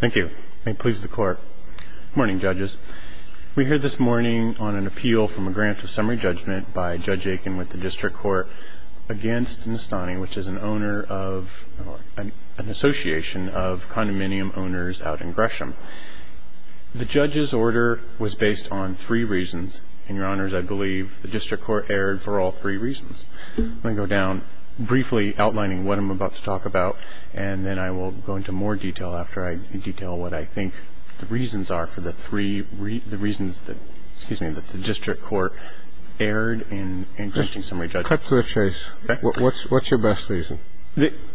Thank you. May it please the Court. Good morning, Judges. We're here this morning on an appeal from a grant of summary judgment by Judge Aiken with the District Court against Nestani, which is an owner of an association of condominium owners out in Gresham. The Judge's order was based on three reasons, and, Your Honors, I believe the District Court erred for all three reasons. I'm going to go down briefly, outlining what I'm about to talk about, and then I will go into more detail after I detail what I think the reasons are for the three reasons that the District Court erred in increasing summary judgment. Cut to the chase. What's your best reason?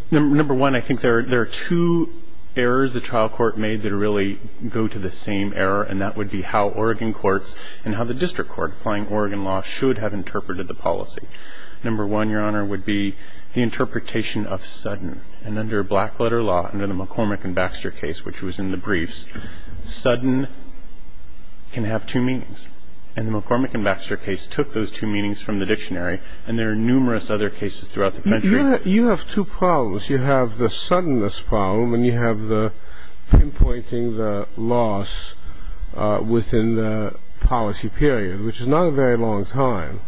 Number one, I think there are two errors the trial court made that really go to the same error, and that would be how Oregon courts and how the District Court, applying Oregon law, should have interpreted the policy. Number one, Your Honor, would be the interpretation of sudden. And under black-letter law, under the McCormick and Baxter case, which was in the briefs, sudden can have two meanings. And the McCormick and Baxter case took those two meanings from the dictionary, and there are numerous other cases throughout the country. You have two problems. You have the suddenness problem, and you have the pinpointing the loss within the policy period, which is not a very long time.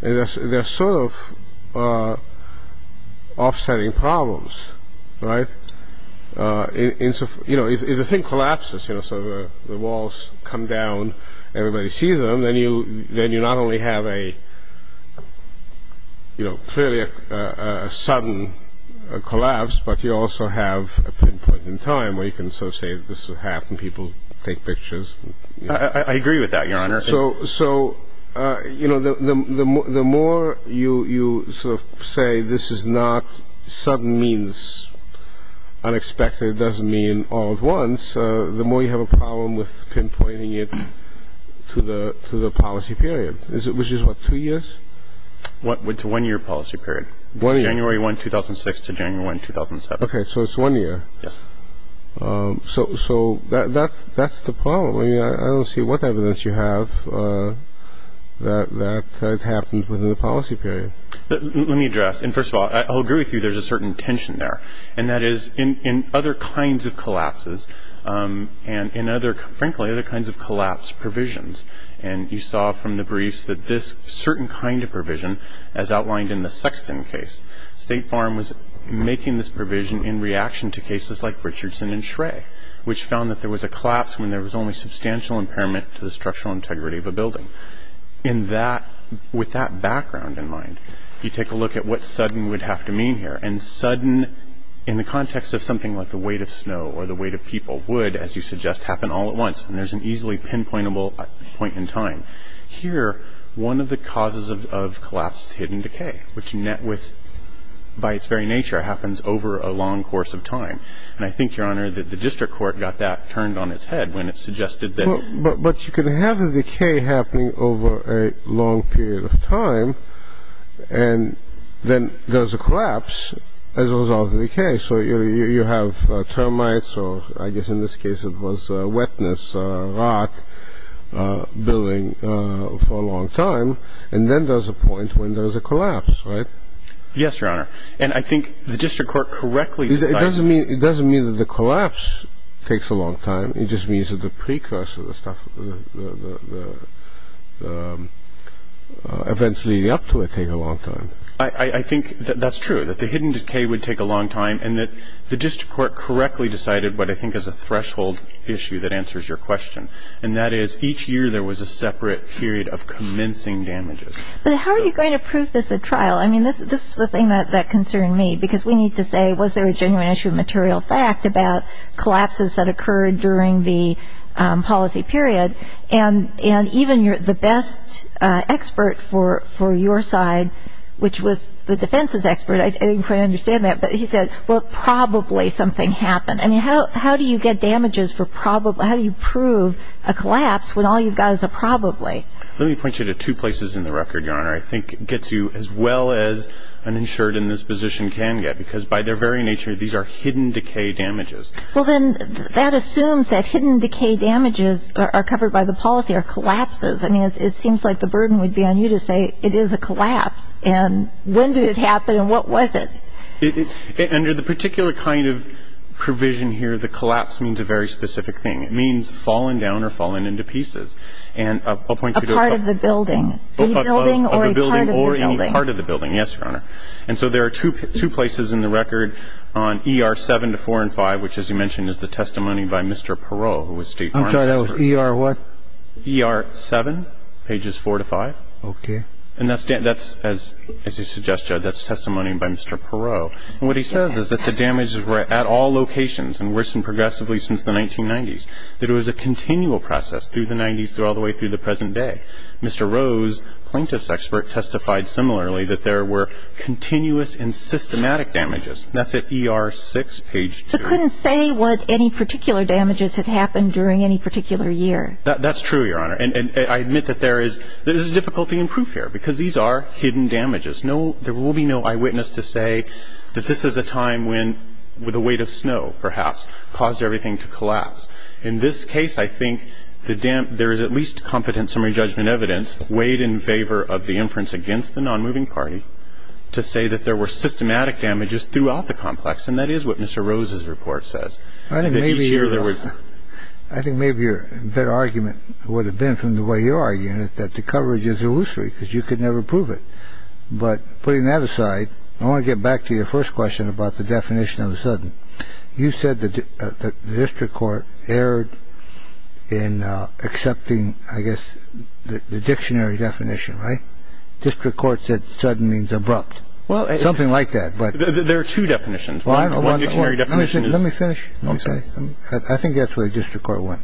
And they're sort of offsetting problems, right? If the thing collapses, so the walls come down, everybody sees them, then you not only have a clearly a sudden collapse, but you also have a pinpoint in time where you can sort of say this will happen. People take pictures. I agree with that, Your Honor. So, you know, the more you sort of say this is not sudden means unexpected, it doesn't mean all at once, the more you have a problem with pinpointing it to the policy period, which is what, two years? It's a one-year policy period, January 1, 2006 to January 1, 2007. OK, so it's one year. Yes. So that's the problem. I don't see what evidence you have that it happened within the policy period. Let me address, and first of all, I'll agree with you, there's a certain tension there. And that is in other kinds of collapses, and in other, frankly, other kinds of collapse provisions. And you saw from the briefs that this certain kind of provision, as outlined in the Sexton case, State Farm was making this provision in reaction to cases like Richardson and Schrae, which found that there was a collapse when there was only substantial impairment to the structural integrity of a building. In that, with that background in mind, you take a look at what sudden would have to mean here. And sudden, in the context of something like the weight of snow or the weight of people, would, as you suggest, happen all at once. And there's an easily pinpointable point in time. Here, one of the causes of collapse is hidden decay, which by its very nature happens over a long course of time. And I think, Your Honor, that the district court got that turned on its head when it suggested that- But you can have a decay happening over a long period of time, and then there's a collapse as a result of the decay. So you have termites, or I guess in this case it was wetness, rot, building for a long time. And then there's a point when there's a collapse, right? Yes, Your Honor. And I think the district court correctly- It doesn't mean that the collapse takes a long time. It just means that the precursor, the stuff, the events leading up to it take a long time. I think that's true, that the hidden decay would take a long time, and that the district court correctly decided what I think is a threshold issue that answers your question. And that is, each year there was a separate period of commencing damages. But how are you going to prove this at trial? I mean, this is the thing that concerned me, because we need to say, was there a genuine issue of material fact about collapses that occurred during the policy period? And even the best expert for your side, which was the defense's expert, I didn't quite understand that, but he said, well, probably something happened. I mean, how do you get damages for probably- how do you prove a collapse when all you've got is a probably? Let me point you to two places in the record, Your Honor, I think gets you as well as an insured in this position can get, because by their very nature, these are hidden decay damages. Well, then that assumes that hidden decay damages are covered by the policy or collapses. I mean, it seems like the burden would be on you to say, it is a collapse. And when did it happen, and what was it? Under the particular kind of provision here, the collapse means a very specific thing. It means fallen down or fallen into pieces. And I'll point you to- A part of the building. A part of the building or any part of the building, yes, Your Honor. And so there are two places in the record on ER 7 to 4 and 5, which, as you mentioned, is the testimony by Mr. Perot, who was State Farm- I'm sorry, that was ER what? ER 7, pages 4 to 5. Okay. And that's, as you suggest, Judge, that's testimony by Mr. Perot. And what he says is that the damages were at all locations and worsened progressively since the 1990s, that it was a continual process through the 90s all the way through the present day. Mr. Rose, plaintiff's expert, testified similarly that there were continuous and systematic damages. That's at ER 6, page 2. But couldn't say what any particular damages had happened during any particular year. That's true, Your Honor. And I admit that there is a difficulty in proof here, because these are hidden damages. No, there will be no eyewitness to say that this is a time when, with a weight of snow, perhaps, caused everything to collapse. In this case, I think the dam- there is at least competent summary judgment evidence weighed in favor of the inference against the non-moving party to say that there were systematic damages throughout the complex, and that is what Mr. Rose's report says. I think maybe your better argument would have been, from the way you're arguing it, that the coverage is illusory, because you could never prove it. But putting that aside, I want to get back to your first question about the definition of a sudden. You said that the district court erred in accepting, I guess, the dictionary definition, right? District court said sudden means abrupt, something like that, but- There are two definitions. One dictionary definition is- Let me finish. I'm sorry. I think that's where the district court went.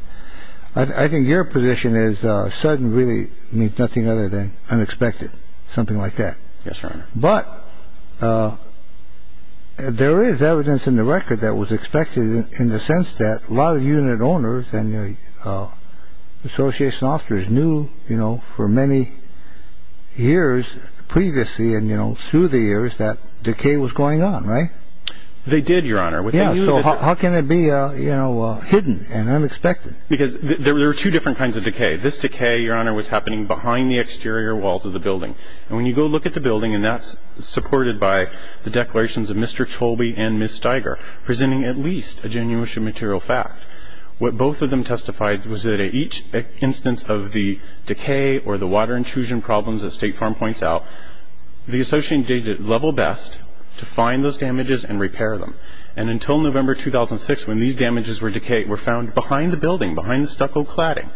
I think your position is sudden really means nothing other than unexpected, something like that. Yes, Your Honor. But there is evidence in the record that was expected in the sense that a lot of unit owners and the association officers knew, you know, for many years previously, and, you know, through the years, that decay was going on, right? They did, Your Honor. Yeah, so how can it be, you know, hidden and unexpected? Because there were two different kinds of decay. This decay, Your Honor, was happening behind the exterior walls of the building. And when you go look at the building, and that's supported by the declarations of Mr. Cholby and Ms. Steiger, presenting at least a genuine material fact, what both of them testified was that at each instance of the decay or the water intrusion problems, as State Farm points out, the associate did level best to find those damages and repair them. And until November 2006, when these damages were decayed, were found behind the building, behind the stucco cladding.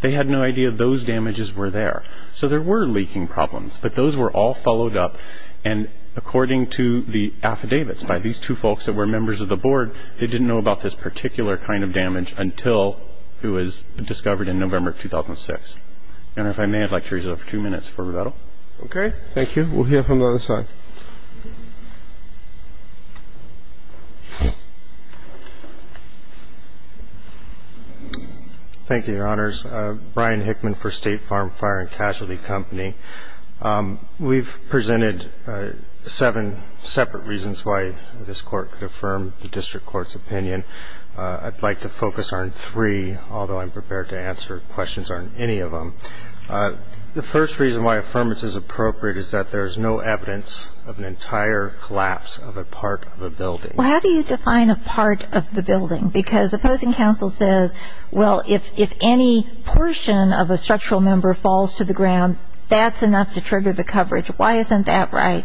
They had no idea those damages were there. So there were leaking problems. But those were all followed up. And according to the affidavits by these two folks that were members of the board, they didn't know about this particular kind of damage until it was discovered in November 2006. Your Honor, if I may, I'd like to reserve two minutes for rebuttal. Okay. Thank you. We'll hear from the other side. Thank you, Your Honors. Brian Hickman for State Farm Fire and Casualty Company. We've presented seven separate reasons why this Court could affirm the district court's opinion. I'd like to focus on three, although I'm prepared to answer questions on any of them. The first reason why affirmance is appropriate is that there's no evidence of an entire collapse of a part of a building. Well, how do you define a part of the building? Because opposing counsel says, well, if any portion of a structural member falls to the ground, that's enough to trigger the coverage. Why isn't that right?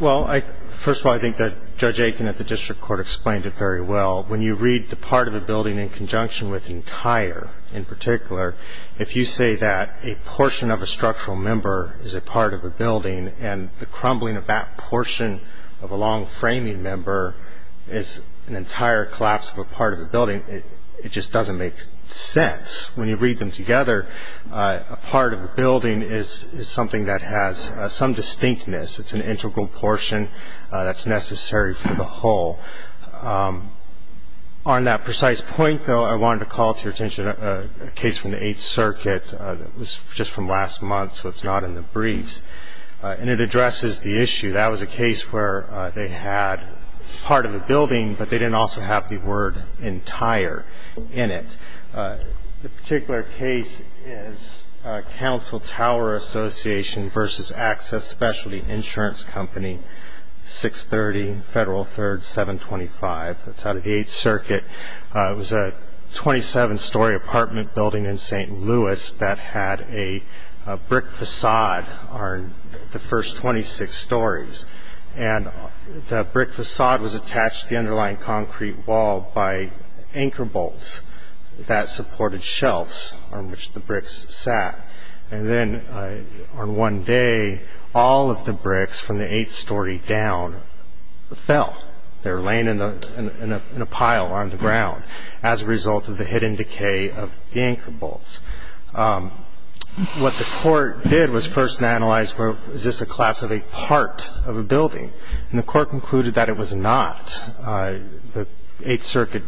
Well, first of all, I think that Judge Aiken at the district court explained it very well. When you read the part of a building in conjunction with entire in particular, if you say that a portion of a structural member is a part of a building and the crumbling of that entire collapse of a part of a building, it just doesn't make sense. When you read them together, a part of a building is something that has some distinctness. It's an integral portion that's necessary for the whole. On that precise point, though, I wanted to call to your attention a case from the Eighth Circuit that was just from last month, so it's not in the briefs. And it addresses the issue. That was a case where they had part of a building, but they didn't also have the word entire in it. The particular case is Council Tower Association versus Access Specialty Insurance Company, 630 Federal 3rd, 725. That's out of the Eighth Circuit. It was a 27-story apartment building in St. Louis that had a brick facade on the first floor, 26 stories. And the brick facade was attached to the underlying concrete wall by anchor bolts that supported shelves on which the bricks sat. And then on one day, all of the bricks from the eighth story down fell. They were laying in a pile on the ground as a result of the hidden decay of the anchor bolts. What the court did was first analyze, well, is this a collapse of a part of a building? And the court concluded that it was not. The Eighth Circuit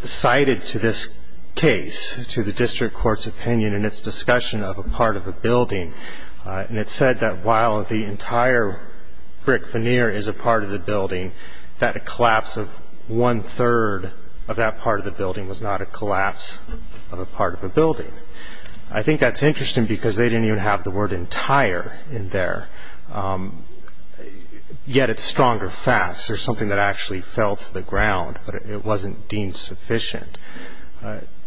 cited to this case, to the district court's opinion in its discussion of a part of a building, and it said that while the entire brick veneer is a part of the building, that a collapse of one-third of that part of the building was not a collapse of a part of a building. I think that's interesting because they didn't even have the word entire in there, yet it's stronger fast. There's something that actually fell to the ground, but it wasn't deemed sufficient.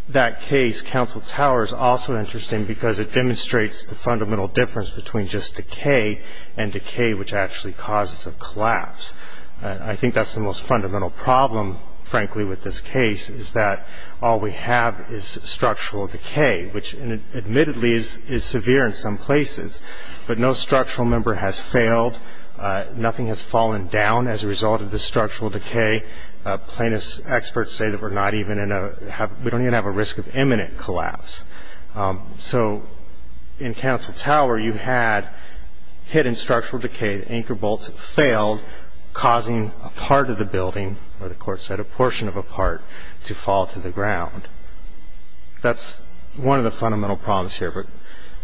That case, Council Tower, is also interesting because it demonstrates the fundamental difference between just decay and decay which actually causes a collapse. I think that's the most fundamental problem, frankly, with this case is that all we have is structural decay, which admittedly is severe in some places. But no structural member has failed. Nothing has fallen down as a result of the structural decay. Plaintiffs' experts say that we don't even have a risk of imminent collapse. So in Council Tower, you had hidden structural decay. The anchor bolts failed, causing a part of the building, or the court said a portion of a part, to fall to the ground. That's one of the fundamental problems here.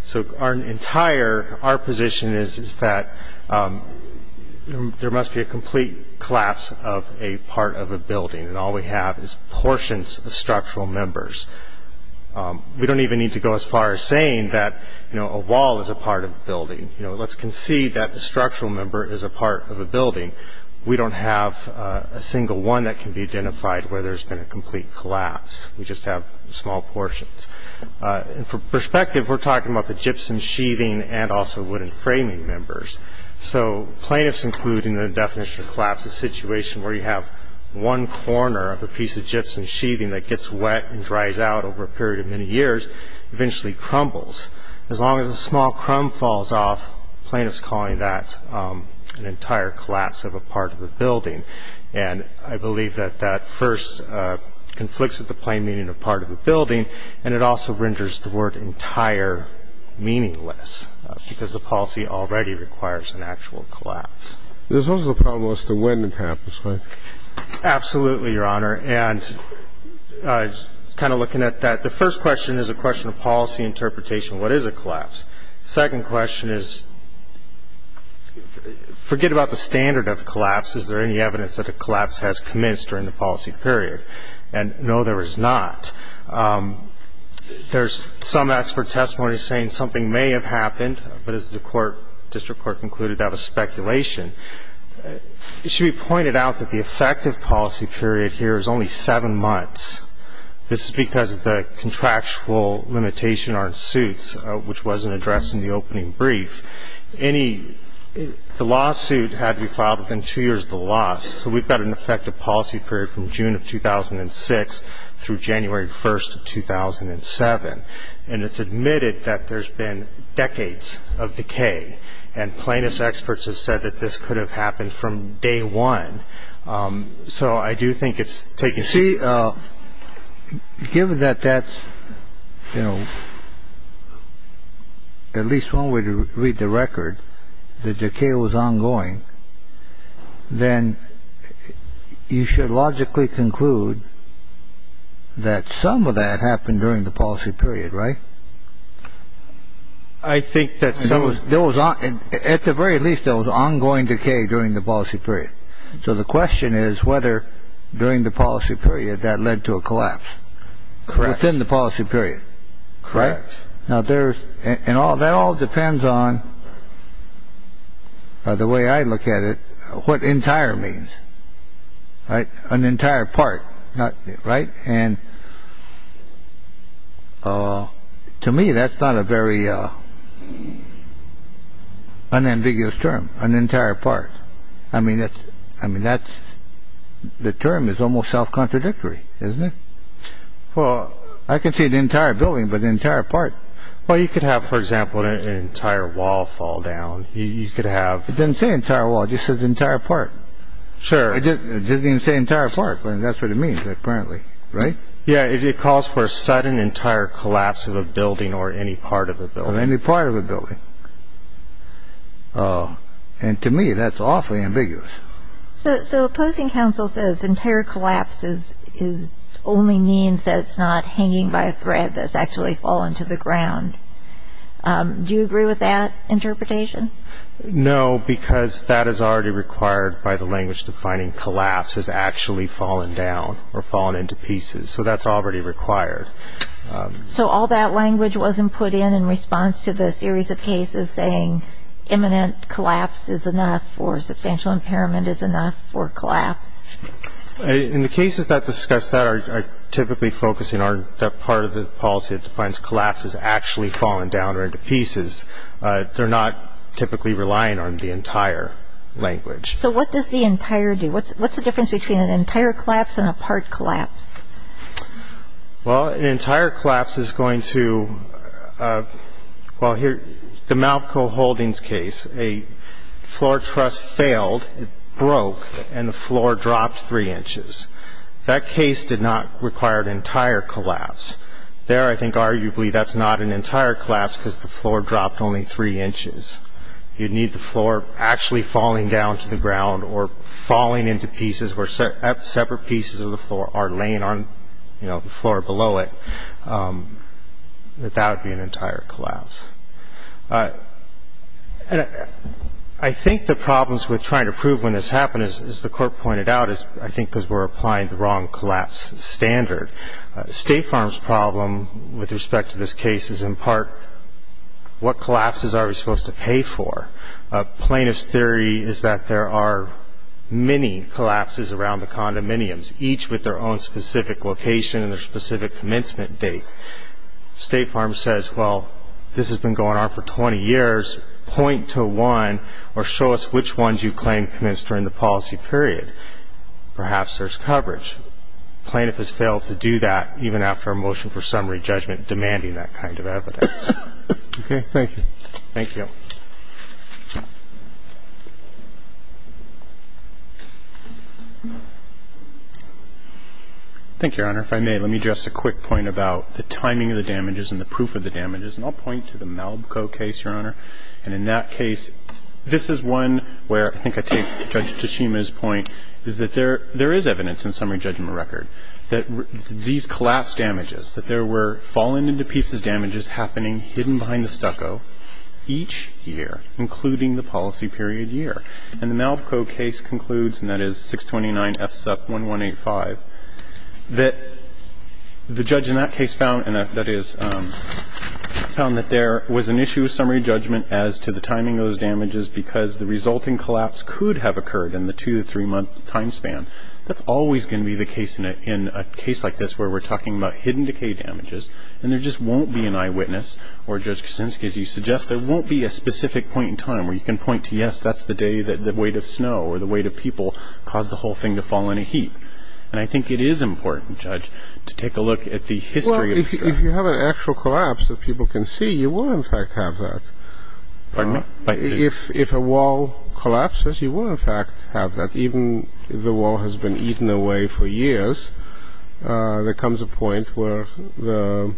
So our position is that there must be a complete collapse of a part of a building, and all we have is portions of structural members. We don't even need to go as far as saying that a wall is a part of a building. Let's concede that the structural member is a part of a building. We don't have a single one that can be identified where there's been a complete collapse. We just have small portions. And for perspective, we're talking about the gypsum sheathing and also wooden framing members. So plaintiffs, including the definition of collapse, a situation where you have one corner of a piece of gypsum sheathing that gets wet and dries out over a period of many years, eventually crumbles. As long as a small crumb falls off, plaintiffs calling that an entire collapse of a part of a building. And I believe that that first conflicts with the plain meaning of part of a building, and it also renders the word entire meaningless because the policy already requires an actual collapse. There's also the problem as to when it happens, right? Absolutely, Your Honor. And I was kind of looking at that. The first question is a question of policy interpretation. What is a collapse? Second question is, forget about the standard of collapse. Is there any evidence that a collapse has commenced during the policy period? And no, there is not. There's some expert testimony saying something may have happened, but as the court, District Court concluded, that was speculation. It should be pointed out that the effective policy period here is only seven months. This is because of the contractual limitation on suits, which wasn't addressed in the opening brief. The lawsuit had to be filed within two years of the loss, so we've got an effective policy period from June of 2006 through January 1st of 2007. And it's admitted that there's been decades of decay, and plaintiff's experts have said that this could have happened from day one. So I do think it's taking too long. Given that that's, you know, at least one way to read the record, the decay was ongoing, then you should logically conclude that some of that happened during the policy period, right? I think that some of it was on. At the very least, there was ongoing decay during the policy period. So the question is whether during the policy period that led to a collapse. Within the policy period, correct? Now, there's and all that all depends on the way I look at it. What entire means, right? An entire part, right? And to me, that's not a very unambiguous term, an entire part. I mean, that's I mean, that's the term is almost self contradictory, isn't it? Well, I can see the entire building, but the entire part. Well, you could have, for example, an entire wall fall down, you could have It doesn't say entire wall, it just says entire part. Sure. It doesn't even say entire part, but that's what it means, apparently, right? Yeah, it calls for a sudden entire collapse of a building or any part of a building. Any part of a building. And to me, that's awfully ambiguous. So opposing counsel says entire collapses is only means that it's not hanging by a thread that's actually fallen to the ground. Do you agree with that interpretation? No, because that is already required by the language defining collapse has actually fallen down or fallen into pieces. So that's already required. So all that language wasn't put in in response to the series of cases saying imminent collapse is enough or substantial impairment is enough for collapse. In the cases that discuss that are typically focusing on that part of the policy that defines collapse has actually fallen down or into pieces. They're not typically relying on the entire language. So what does the entire do? What's the difference between an entire collapse and a part collapse? Well, an entire collapse is going to Well, here, the Malco Holdings case, a floor truss failed, it broke, and the floor dropped three inches. That case did not require an entire collapse. There, I think, arguably, that's not an entire collapse because the floor dropped only three inches. You need the floor actually falling down to the ground or falling into pieces where separate pieces of the floor are laying on the floor below it. And that would be an entire collapse. I think the problems with trying to prove when this happened, as the court pointed out, is I think because we're applying the wrong collapse standard. State Farm's problem with respect to this case is in part, what collapses are we supposed to pay for? Plaintiff's theory is that there are many collapses around the condominiums, each with their own specific location and their specific commencement date. State Farm says, well, this has been going on for 20 years, point to one or show us which ones you claim commenced during the policy period. Perhaps there's coverage. Plaintiff has failed to do that even after a motion for summary judgment demanding that kind of evidence. Okay, thank you. Thank you. Thank you, Your Honor. If I may, let me address a quick point about the timing of the damages and the proof of the damages. And I'll point to the Malbco case, Your Honor. And in that case, this is one where I think I take Judge Tashima's point is that there is evidence in summary judgment record that these collapse damages, that there were fallen into pieces damages happening hidden behind the stucco each year, including the policy period year. And the Malbco case concludes, and that is 629 FSUP 1185, that the judge in that case found that there was an issue of summary judgment as to the timing of those damages because the resulting collapse could have occurred in the two to three month time span. That's always going to be the case in a case like this where we're talking about hidden decay damages. And there just won't be an eyewitness or, Judge Kuczynski, as you suggest, there won't be a specific point in time where you can point to, that's the day that the weight of snow or the weight of people caused the whole thing to fall in a heap. And I think it is important, Judge, to take a look at the history. Well, if you have an actual collapse that people can see, you will, in fact, have that. Pardon me? If a wall collapses, you will, in fact, have that. Even if the wall has been eaten away for years, there comes a point where the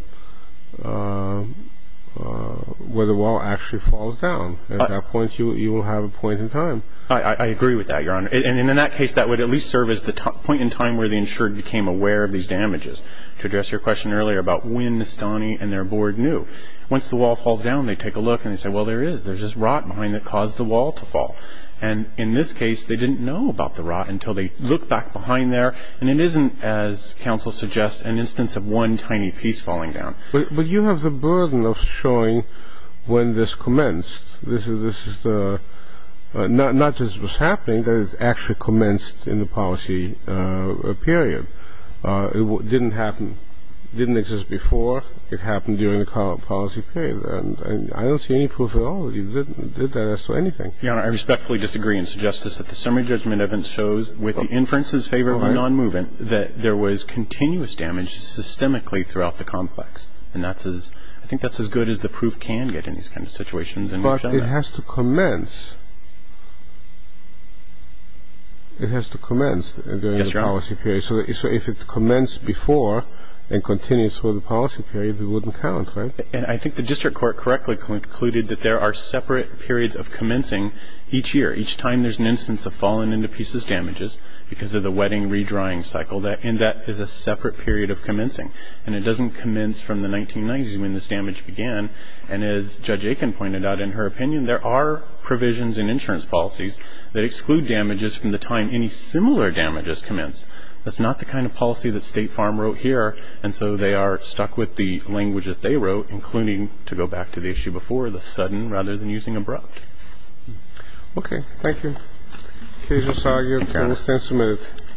wall actually falls down. At that point, you will have a point in time. I agree with that, Your Honor. And in that case, that would at least serve as the point in time where the insured became aware of these damages. To address your question earlier about when Nastani and their board knew, once the wall falls down, they take a look and they say, well, there is, there's just rot behind that caused the wall to fall. And in this case, they didn't know about the rot until they look back behind there. And it isn't, as counsel suggests, an instance of one tiny piece falling down. But you have the burden of showing when this commenced, this is the, not just what's happening, but it actually commenced in the policy period. It didn't happen, didn't exist before. It happened during the policy period. And I don't see any proof at all that he did that as to anything. Your Honor, I respectfully disagree and suggest this, that the summary judgment evidence shows with the inferences favor of a non-movement that there was continuous damage systemically throughout the complex. And that's as, I think that's as good as the proof can get in these kinds of situations. But it has to commence. It has to commence during the policy period. So if it commenced before and continues for the policy period, it wouldn't count, right? And I think the district court correctly concluded that there are separate periods of commencing each year, each time there's an instance of fallen into pieces damages because of the wetting redrawing cycle that in that is a separate period of commencing. And it doesn't commence from the 1990s when this damage began. And as Judge Aiken pointed out in her opinion, there are provisions in insurance policies that exclude damages from the time any similar damages commence. That's not the kind of policy that State Farm wrote here. And so they are stuck with the language that they wrote, including to go back to the issue before, the sudden rather than using abrupt. Okay. Thank you.